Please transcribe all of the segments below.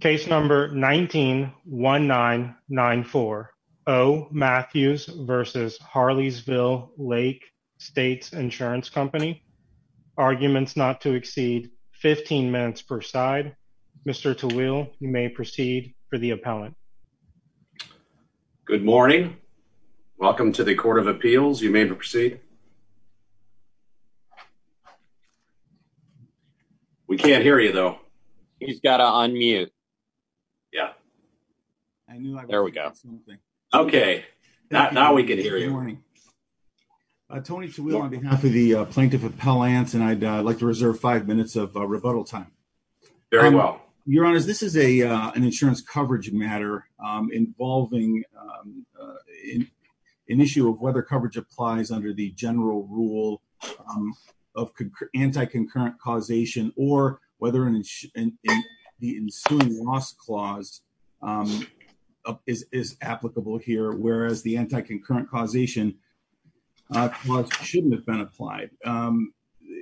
Case number 19-1994. O. Matthews v. Harleysville Lake States Insurance Company. Arguments not to exceed 15 minutes per side. Mr. Tawil, you may proceed for the appellant. Good morning. Welcome to the Court of Appeals. You may proceed. We can't hear you though. He's got to unmute. Yeah. There we go. Okay, now we can hear you. Good morning. Tony Tawil on behalf of the Plaintiff Appellants and I'd like to reserve five minutes of rebuttal time. Very well. Your Honor, this is an insurance coverage matter involving an issue of whether coverage applies under the general rule of anti-concurrent causation or whether the ensuing loss clause is applicable here, whereas the anti-concurrent causation clause shouldn't have been applied.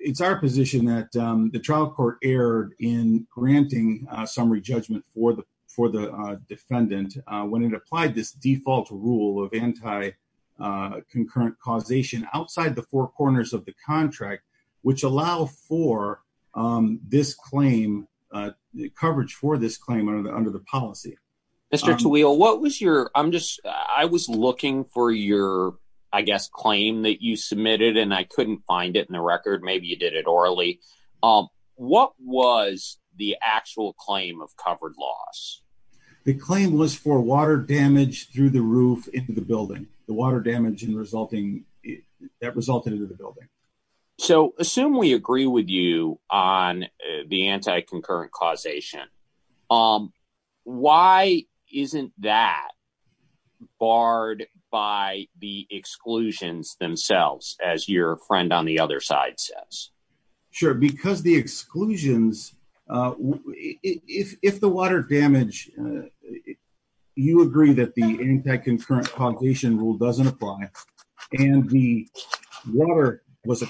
It's our position that the trial court erred in granting summary judgment for the defendant when it applied this default rule of anti-concurrent causation outside the four corners of the contract, which allow for coverage for this claim under the policy. Mr. Tawil, I was looking for your claim that you submitted and I couldn't find it in the record. Maybe you did it poorly. What was the actual claim of covered loss? The claim was for water damage through the roof into the building. The water damage that resulted in the building. So, assume we agree with you on the anti-concurrent causation. Why isn't that barred by the exclusions themselves, as your friend on the other side says? Sure, because the exclusions, if the water damage, you agree that the anti-concurrent causation rule doesn't apply and the water was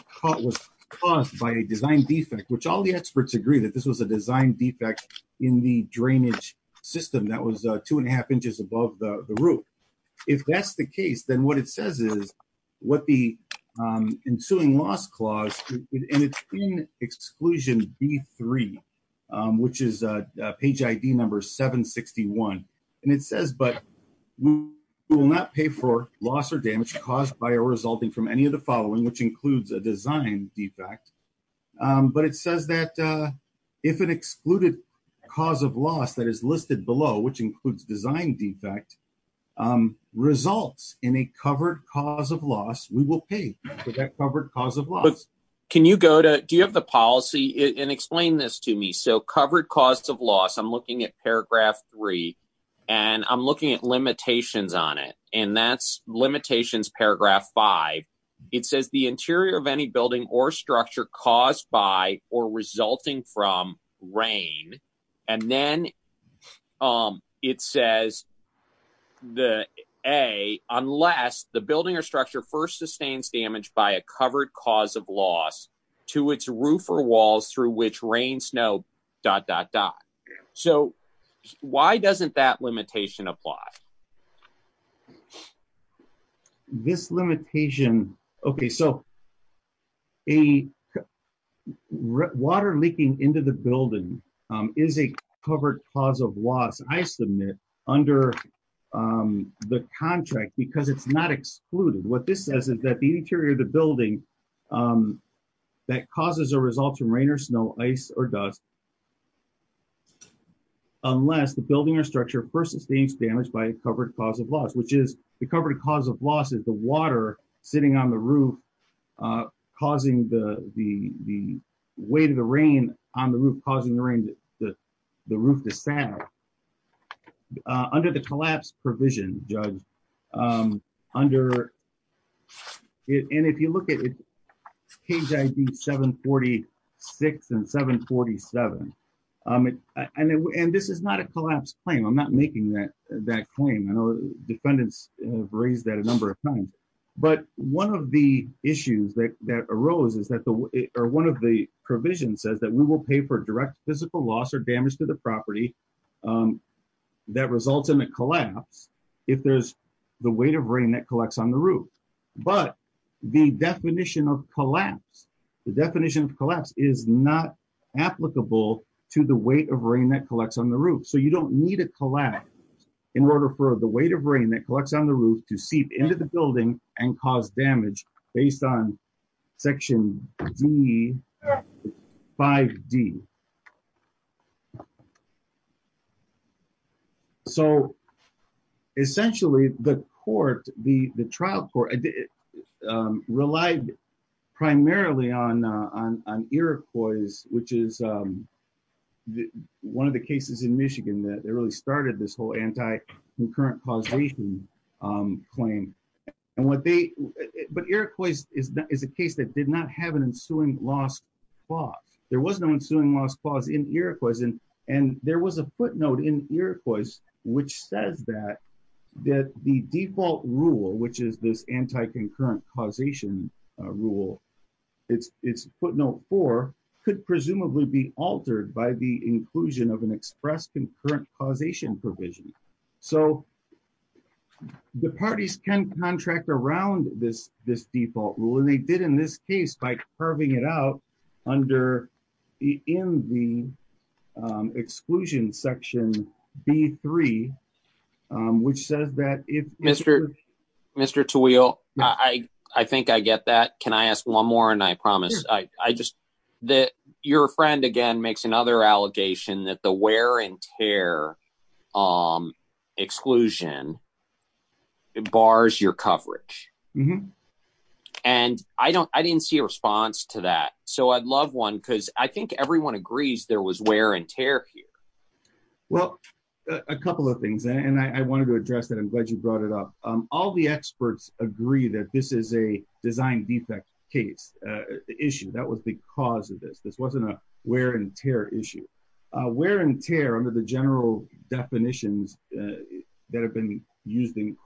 caused by a design defect, which all the experts agree that this was a design defect in the drainage system that was two and a half inches above the roof. If that's the case, then what it says is what the ensuing loss clause, and it's in exclusion B3, which is page ID number 761. And it says, but we will not pay for loss or damage caused by or resulting from any of the following, which includes a design defect. But it says that if an excluded cause of loss that is listed below, which includes design defect, results in a covered cause of loss, we will pay for that covered cause of loss. Can you go to, do you have the policy and explain this to me? So, covered cause of loss, I'm looking at paragraph three and I'm looking at limitations on it. And that's limitations paragraph five. It says the interior of any building or structure caused by or resulting from rain. And then it says the A, unless the building or structure first sustains damage by a covered cause of loss to its roof or walls through which rain, snow, dot, dot, dot. So why doesn't that limitation apply? This limitation. Okay. So a water leaking into the building is a covered cause of loss. I submit under the contract because it's not excluded. What this says is that the interior of the building that causes a result from rain or snow ice or dust, unless the building or structure first sustains damage by a covered cause of loss, which is the covered cause of loss is the water sitting on the roof causing the weight of the rain on the roof, causing the rain, the roof to sag. Under the collapse provision, judge, under, and if you look page ID seven 46 and seven 47, and this is not a collapse claim. I'm not making that claim. I know defendants have raised that a number of times, but one of the issues that arose is that the, or one of the provision says that we will pay for direct physical loss or damage to the property that results in a collapse. If there's the weight of rain that collects on the roof, but the definition of collapse, the definition of collapse is not applicable to the weight of rain that collects on the roof. So you don't need a collapse in order for the weight of rain that collects on the roof to seep into the building and cause damage based on section D five D. So essentially the court, the trial court relied primarily on Iroquois, which is one of the cases in Michigan that they really started this whole anti-concurrent causation claim. And what they, but Iroquois is a case that did not have an ensuing loss clause. There was no ensuing loss clause in Iroquois. And there was a footnote in Iroquois, which says that, that the default rule, which is this anti-concurrent causation rule, it's footnote four could presumably be altered by the inclusion of an express concurrent causation provision. So the parties can contract around this, this default rule. And they did in this case, by curving it out under the, in the exclusion section B3, which says that if Mr. Mr. Tawil, I think I get that. Can I ask one more? And I promise I just that your friend again, makes another allegation that the wear and tear exclusion, it bars your coverage. Mm hmm. And I don't, I didn't see a response to that. So I'd love one, because I think everyone agrees there was wear and tear here. Well, a couple of things. And I wanted to address that. I'm glad you brought it up. All the experts agree that this is a design defect case issue. That was the cause of this. This wasn't a wear and tear issue. Wear and tear under the general definitions that have been used in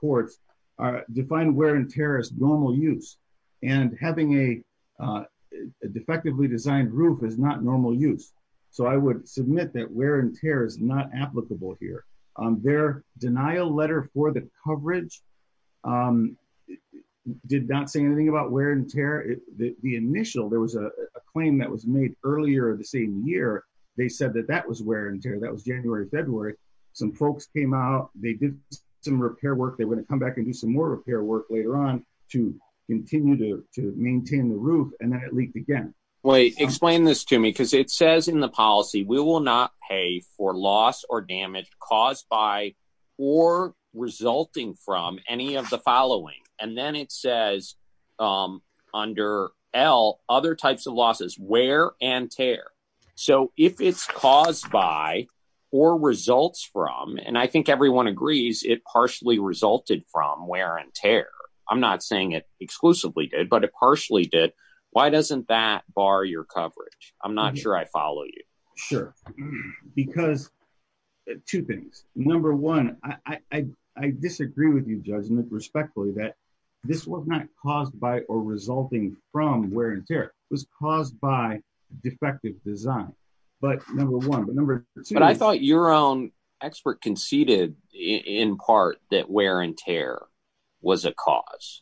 normal use, and having a defectively designed roof is not normal use. So I would submit that wear and tear is not applicable here. Their denial letter for the coverage did not say anything about wear and tear. The initial there was a claim that was made earlier of the same year. They said that that was wear and tear. That was January, February, some folks came out, they did some repair work, they want to come back and do some more repair work later on to continue to maintain the roof. And then it leaked again. Wait, explain this to me, because it says in the policy, we will not pay for loss or damage caused by or resulting from any of the following. And then it says, under L, other types of losses, wear and tear. So if it's caused by or results from and I think everyone agrees it partially resulted from wear and tear. I'm not saying it exclusively did, but it partially did. Why doesn't that bar your coverage? I'm not sure I follow you. Sure. Because two things. Number one, I disagree with you judgment respectfully that this was not caused by or resulting from wear and tear was caused by defective design. But number I thought your own expert conceded in part that wear and tear was a cause.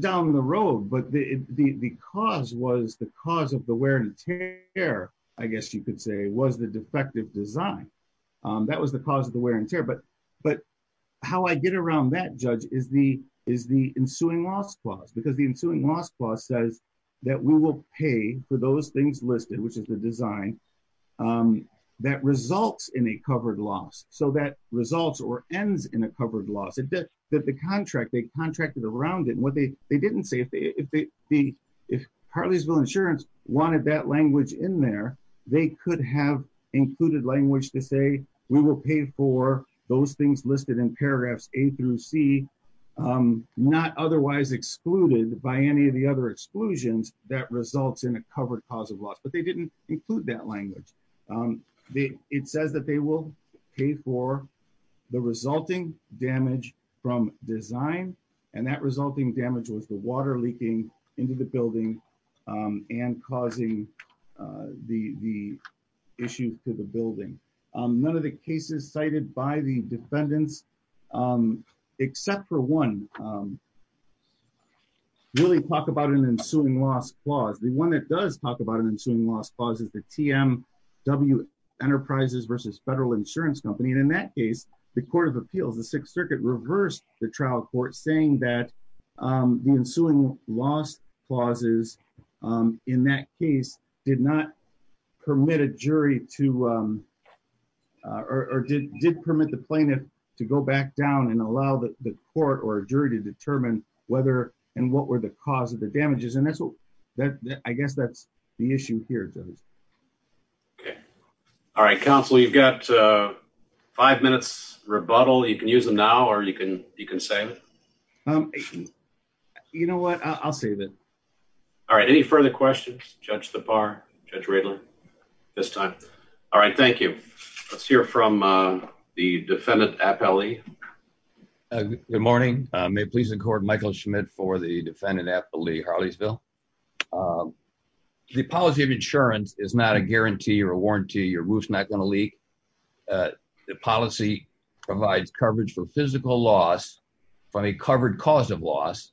Down the road, but the cause was the cause of the wear and tear, I guess you could say, was the defective design. That was the cause of the wear and tear. But how I get around that, Judge, is the ensuing loss clause. Because the ensuing loss clause says that we will pay for those things listed, which is the design that results in a covered loss. So that results or ends in a covered loss. That the contract, they contracted around it. What they didn't say, if Hartleysville Insurance wanted that language in there, they could have included language to say, we will pay for those things listed in paragraphs A through C, not otherwise excluded by any of the exclusions that results in a covered cause of loss. But they didn't include that language. It says that they will pay for the resulting damage from design. And that resulting damage was the water leaking into the building and causing the issue to the building. None of the cases cited by the defendants, except for one, really talk about an ensuing loss clause. The one that does talk about an ensuing loss clause is the TMW Enterprises versus Federal Insurance Company. And in that case, the Court of Appeals, the Sixth Circuit reversed the trial court saying that the ensuing loss clauses in that case did not permit a jury to, or did permit the plaintiff to go back down and allow the court or jury to determine whether and what were the cause of the damages. And that's what, I guess that's the issue here, Judge. Okay. All right, counsel, you've got five minutes rebuttal. You can use them now or you can save it. You know what? I'll save it. All right. Any further questions, Judge Thapar, Judge Radler, at this time? All right. Thank you. Let's hear from the defendant, Appellee. Good morning. May it please the Court, Michael Schmidt for the defendant, Appellee Harleysville. The policy of insurance is not a guarantee or a warranty. Your roof's not going to leak. The policy provides coverage for physical loss from a covered cause of loss.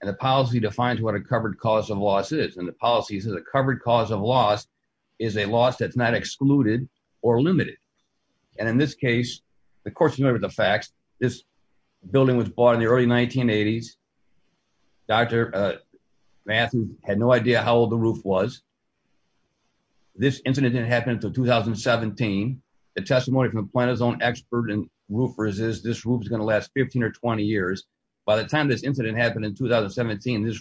And the policy defines what a covered cause of loss is. And the policy says a covered cause of loss is a loss that's not excluded or limited. And in this case, the court's familiar with the facts. This building was bought in the early 1980s. Dr. Matheson had no idea how old the roof was. This incident didn't happen until 2017. The testimony from the plaintiff's own expert and in 2017, this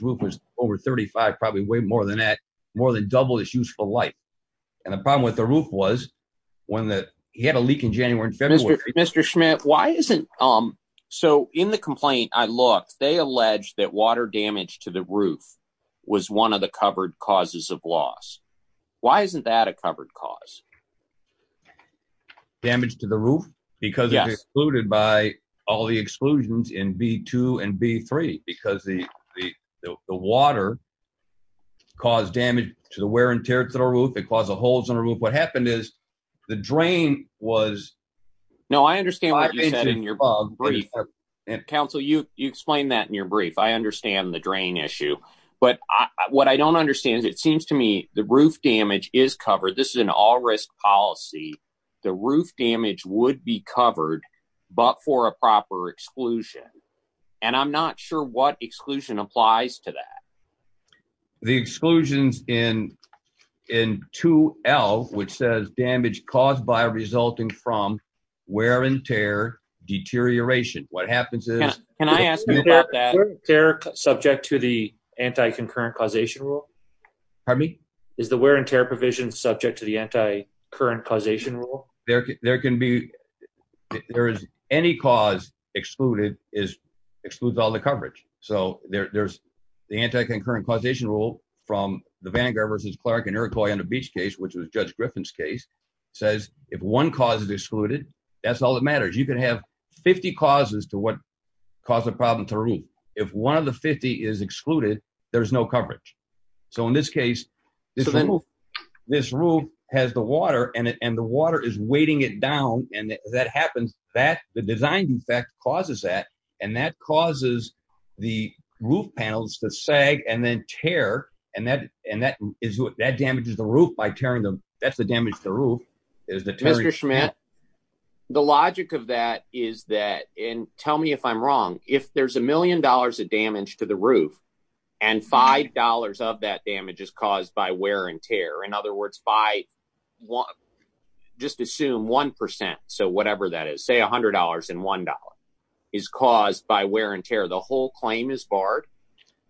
roof was over 35, probably way more than that, more than double its useful life. And the problem with the roof was when the – he had a leak in January and February. Mr. Schmidt, why isn't – so in the complaint I looked, they alleged that water damage to the roof was one of the covered causes of loss. Why isn't that a covered cause? Damage to the roof? Because it was excluded by all the exclusions in B-2 and B-3 because the water caused damage to the wear and tear to the roof. It caused the holes in the roof. What happened is the drain was – No, I understand what you said in your brief. Counsel, you explained that in your brief. I understand the drain issue. But what I don't understand is it seems to me the roof damage is covered. This is an all-risk policy. The roof damage would be covered, but for a proper exclusion. And I'm not sure what exclusion applies to that. The exclusions in 2L, which says damage caused by resulting from wear and tear, deterioration. What happens is – Can I ask about that? They're subject to the anti-concurrent causation rule? Pardon me? Is the wear and tear provision subject to the anti-current causation rule? There can be – there is – any cause excluded excludes all the coverage. So there's the anti-concurrent causation rule from the Vanguard v. Clark and Iroquois on the beach case, which was Judge Griffin's case, says if one cause is excluded, that's all that matters. You can have 50 causes to what caused the problem to the roof. If one of the 50 is excluded, there's no coverage. So in this case, this roof has the water and the water is weighting it down. And as that happens, the design defect causes that. And that causes the roof panels to sag and then tear. And that damages the roof by tearing them. That's the damage to the roof. Mr. Schmidt, the logic of that is that – and tell me if I'm wrong – if there's $1 million of damage to the roof and $5 of that damage is caused by wear and tear, in other words, by – just assume 1 percent, so whatever that is, say $100 and $1, is caused by wear and tear. The whole claim is barred?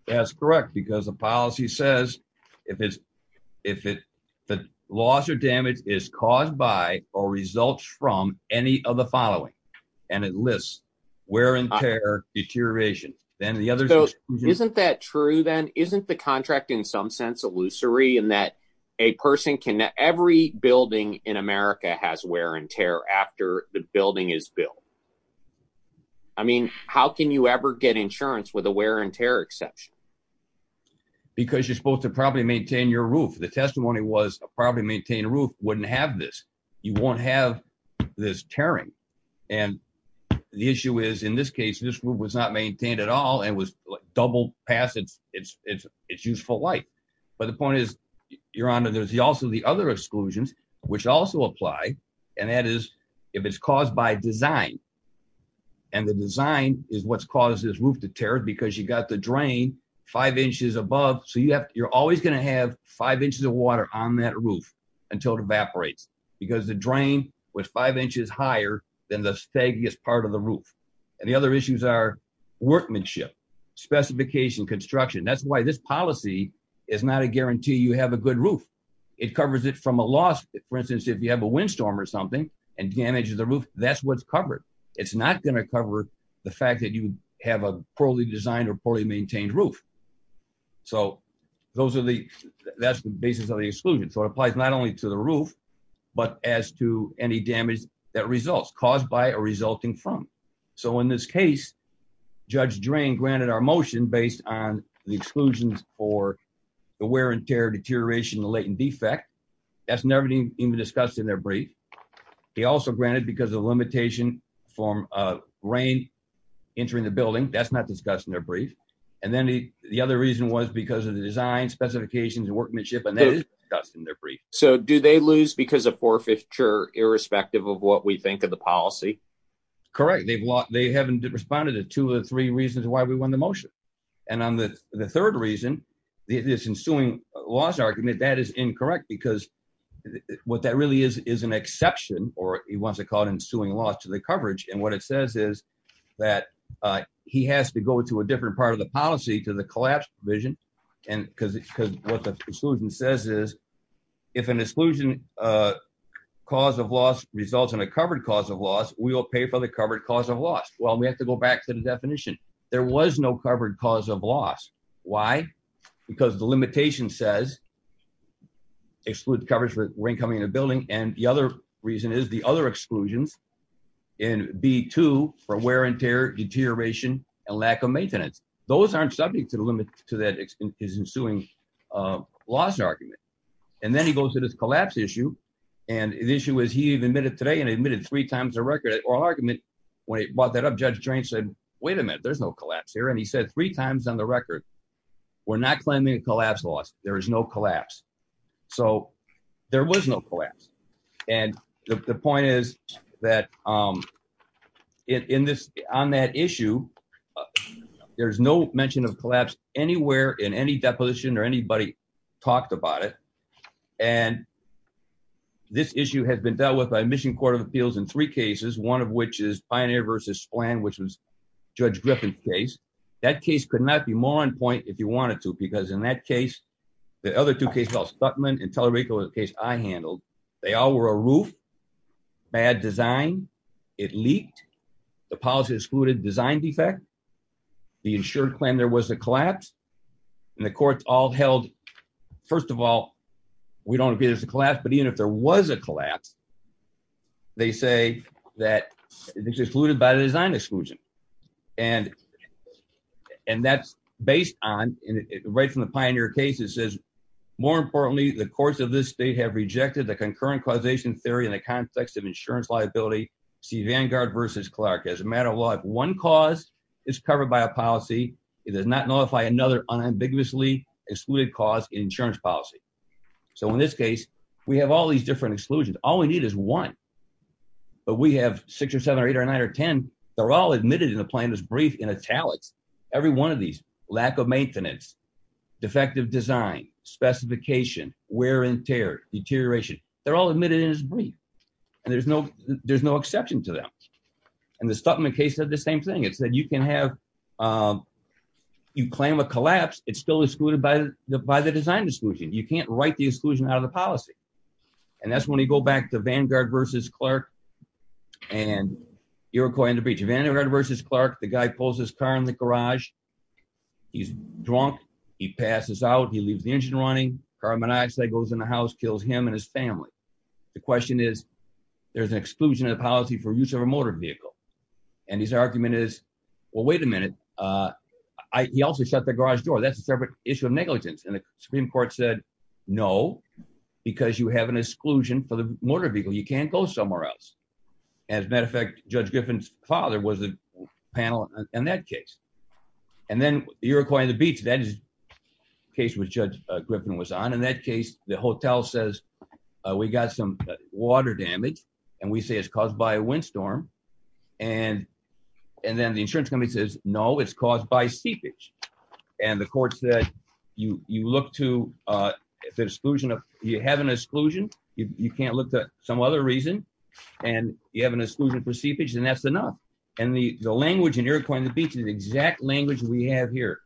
That's correct, because the policy says if the loss or damage is caused by or results from any of the following, and it lists wear and tear, deterioration, then the other – Isn't that true then? Isn't the contract in some sense illusory in that a person can – every building in America has wear and tear after the building is built? I mean, how can you ever get insurance with a wear and tear exception? Because you're supposed to probably maintain your roof. The testimony was a probably maintained roof wouldn't have this. You won't have this tearing. And the issue is in this case, this roof was not maintained at all and was doubled past its useful life. But the point is, Your Honor, there's also the other exclusions which also apply, and that is if it's caused by design. And the design is what's caused this roof to tear because you got the drain five inches above. So you're always going to have five inches of water on that roof until it evaporates because the drain was five inches higher than the stagiest part of the roof. And the other issues are workmanship, specification, construction. That's why this policy is not a guarantee you have a good roof. It covers it from a loss. For instance, if you have a windstorm or something and damages the roof, that's what's covered. It's not going to cover the fact that you have a poorly designed or poorly maintained roof. So that's the basis of the exclusion. So it applies not only to the roof, but as to any damage that results caused by or resulting from. So in this case, Judge Drain granted our motion based on the exclusions for the wear and tear deterioration, the latent defect. That's never been even discussed in their brief. He also granted because of limitation from rain entering the building. That's not discussed in their brief. And then the other reason was because of the design specifications and workmanship. So do they lose because of poor fixture, irrespective of what we think of the policy? Correct. They haven't responded to two or three reasons why we won the motion. And on the third reason, this ensuing loss argument, that is incorrect because what that really is, is an exception or he wants to call it ensuing loss to the coverage. And what it says is that he has to go to a different part of the policy to the collapse vision. And because what the exclusion says is, if an exclusion cause of loss results in a covered cause of loss, we will pay for the covered cause of loss. Well, we have to go back to the coverage for rain coming in a building. And the other reason is the other exclusions in B2 for wear and tear deterioration and lack of maintenance. Those aren't subject to the limit to that is ensuing loss argument. And then he goes to this collapse issue. And the issue is he even admitted today and admitted three times a record or argument. When he brought that up, Judge Drain said, wait a minute, there's no collapse here. And he said three times on the there was no collapse. And the point is that in this on that issue, there's no mention of collapse anywhere in any deposition or anybody talked about it. And this issue has been dealt with by mission court of appeals in three cases, one of which is pioneer versus plan, which was Judge Griffin's case. That case could not be more on point if you wanted to, because in that case, the other two cases, Stuttman and Talladega was the case I handled, they all were a roof, bad design, it leaked, the policy excluded design defect, the insured claim there was a collapse. And the courts all held, first of all, we don't agree there's a collapse. But even if there was a collapse, they say that it's excluded by the design exclusion. And, and that's based on right from the pioneer case, it says, more importantly, the courts of this state have rejected the concurrent causation theory in the context of insurance liability, see Vanguard versus Clark as a matter of law, if one cause is covered by a policy, it does not notify another unambiguously excluded cause insurance policy. So in this case, we have all these different exclusions, all we need is one. But we have six or seven or eight or nine or 10. They're all admitted in the plaintiff's brief in italics, every one of these lack of maintenance, defective design, specification, wear and tear deterioration, they're all admitted in his brief. And there's no, there's no exception to them. And the Stuttman case of the same thing, it's that you can have you claim a collapse, it's still excluded by the by the design exclusion, you can't write the exclusion out of the policy. And that's when you go back to Vanguard versus Clark. And you're going to reach a vendor versus Clark, the guy pulls his car in the garage. He's drunk, he passes out, he leaves the engine running carbon dioxide goes in the house kills him and his family. The question is, there's an exclusion of policy for use of a motor vehicle. And his argument is, well, wait a minute. I also shut the garage door. That's a separate issue of negligence. And the Supreme Court said, No, because you have an exclusion for the motor vehicle, you can't go somewhere else. As a matter of fact, Judge Griffin's father was a panel in that case. And then you're acquiring the beach that is case with Judge Griffin was on in that case, the hotel says, we got some water damage. And we say it's caused by a windstorm. And, and then the insurance company says, No, it's caused by seepage. And the court said, you look to the exclusion of you have an exclusion, you can't look to some other reason. And you have an exclusion for seepage. And that's enough. And the language and you're going to beat the exact language we have here,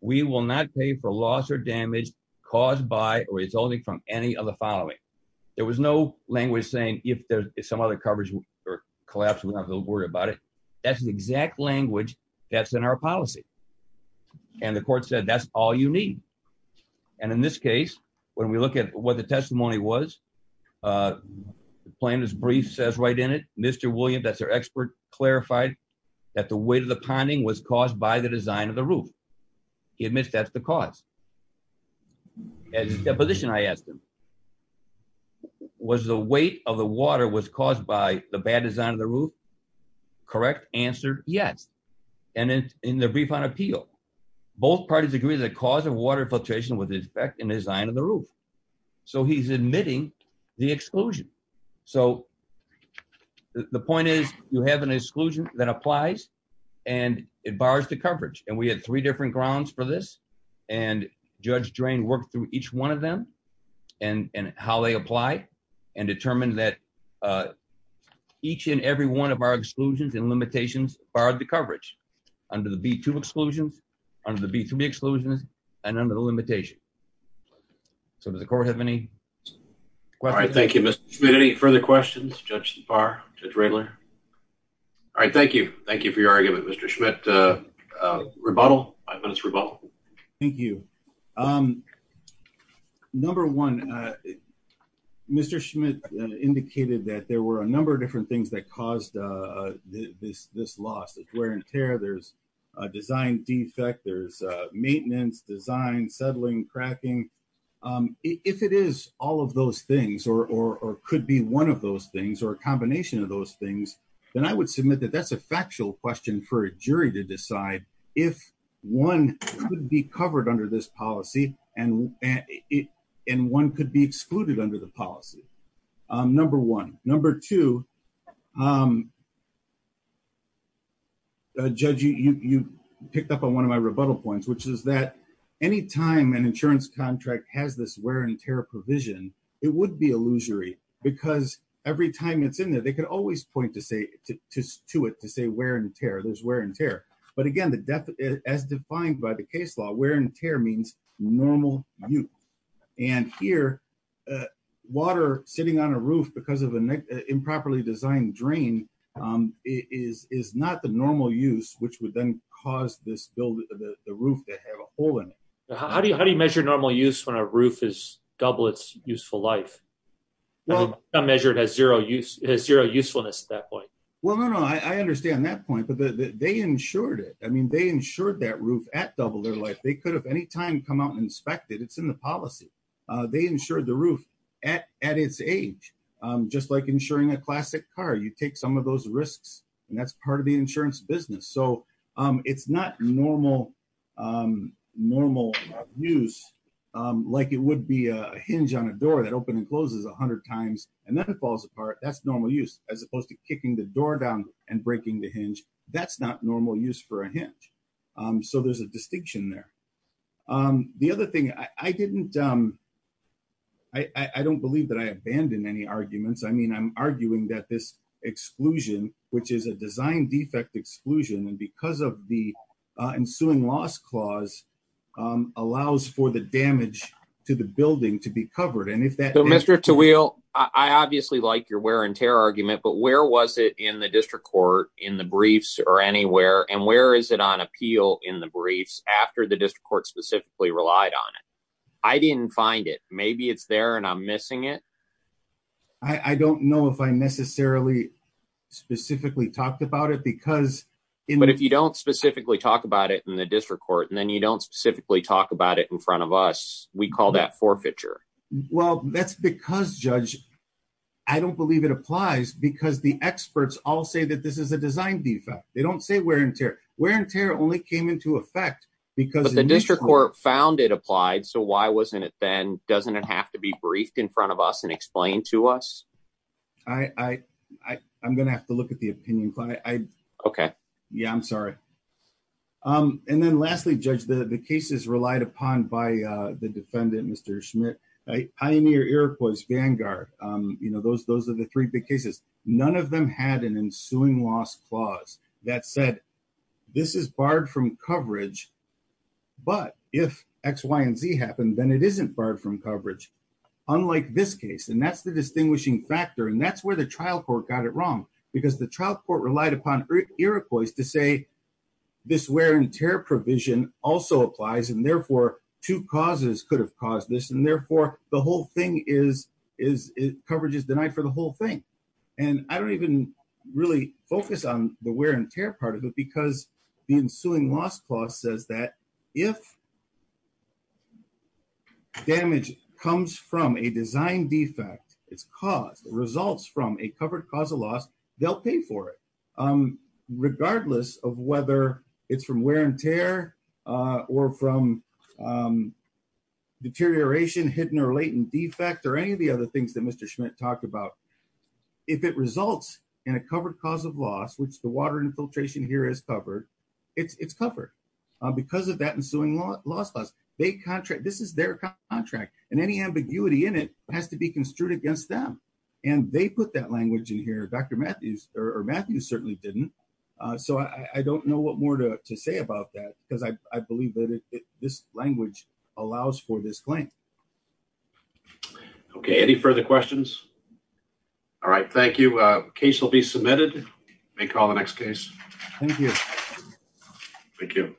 we will not pay for loss or damage caused by or resulting from any of the following. There was no language saying if there's some other collapse, we don't have to worry about it. That's the exact language that's in our policy. And the court said, that's all you need. And in this case, when we look at what the testimony was, plaintiff's brief says right in it, Mr. William, that's our expert clarified that the weight of the ponding was caused by the design of the roof. He admits that's the cause. As a position I asked him, was the weight of the water was caused by the bad design of the roof? Correct answer? Yes. And in the brief on appeal, both parties agree that cause of water filtration with his back and design of the roof. So he's admitting the exclusion. So the point is, you have an exclusion that applies. And it bars the coverage. And we had three different grounds for this. And Judge Drain worked through each one of them and how they apply and determined that each and every one of our exclusions and limitations barred the coverage under the B two exclusions, under the B three exclusions and under the limitation. So does the court have any questions? Thank you, Mr. Smith. Any further questions? Judge bar trailer. All right. Thank you. Thank you for your argument, Mr. Schmidt. Rebuttal. I thought it's rebuttal. Thank you. Um, number one, Mr. Schmidt indicated that there were a number of different things that caused, uh, this, this loss of wear and tear. There's a design defect. There's a maintenance design, settling, cracking. Um, if it is all of those things or, or, or could be one of those things or a combination of those things, then I would submit that that's a factual question for a jury to decide if one could be covered under this policy and it, and one could be excluded under the policy. Um, number one, number two, um, uh, judge, you, you picked up on one of my rebuttal points, which is that anytime an insurance contract has this wear and tear provision, it would be illusory because every time it's in there, they could always point to say to, to, to it, to say wear and tear there's wear and tear. But again, the death as defined by the case law, wear and tear means normal youth. And here, uh, water sitting on a roof because of an improperly designed drain, um, is, is not the How do you, how do you measure normal use when a roof is double its useful life? Well, I measured has zero use has zero usefulness at that point. Well, no, no, I understand that point, but the, the, they insured it. I mean, they insured that roof at double their life. They could have anytime come out and inspected it's in the policy. Uh, they insured the roof at, at its age. Um, just like insuring a classic car, you take some of those risks and that's part of the insurance business. So, um, it's not normal, um, normal use, um, like it would be a hinge on a door that opened and closes a hundred times and then it falls apart. That's normal use as opposed to kicking the door down and breaking the hinge. That's not normal use for a hinge. Um, so there's a distinction there. Um, the other thing I didn't, um, I, I don't believe that I abandoned any arguments. I mean, I'm arguing that this exclusion, which is a design defect exclusion. And because of the ensuing loss clause, um, allows for the damage to the building to be covered. And if that Mr. To wheel, I obviously like your wear and tear argument, but where was it in the district court in the briefs or anywhere? And where is it on appeal in the briefs after the district court specifically relied on it? I didn't find it. Maybe it's there and I'm missing it. I don't know if I necessarily specifically talked about it because. But if you don't specifically talk about it in the district court and then you don't specifically talk about it in front of us, we call that forfeiture. Well, that's because judge, I don't believe it applies because the experts all say that this is a design defect. They don't say wear and tear wear and tear only came into effect because the district court found it applied. So why wasn't it then? Doesn't it have to be briefed in front of us and explain to us? I, I, I, I'm going to have to look at the opinion. Okay. Yeah, I'm sorry. Um, and then lastly, judge, the cases relied upon by the defendant, Mr. Schmidt, a pioneer, Iroquois Vanguard. Um, you know, those, those are the three big cases. None of them had an ensuing loss clause that said this is barred from coverage. But if X, Y, and Z happened, then it isn't barred from coverage. Unlike this case. And that's the distinguishing factor. And that's where the trial court got it wrong because the trial court relied upon Iroquois to say this wear and tear provision also applies. And therefore two causes could have caused this. And therefore the whole thing is, is it coverage is denied for the whole thing. And I don't even really focus on the wear and tear part of it because the ensuing loss clause says that if damage comes from a design defect, it's caused results from a covered cause of loss, they'll pay for it. Um, regardless of whether it's from wear and tear, uh, or from, um, deterioration, hidden or latent defect, or any of the other things that Mr. Schmidt talked about, if it results in a covered cause of loss, which the water infiltration here is covered, it's, it's covered, uh, because of that ensuing law loss clause, they contract, this is their contract and any ambiguity in it has to be construed against them. And they put that language in here, Dr. Matthews or Matthew certainly didn't. Uh, so I don't know what more to say about that because I believe that this language allows for this claim. Okay. Any further questions? All right. Thank you. Uh, case will be submitted. May call the next case. Thank you. Thank you.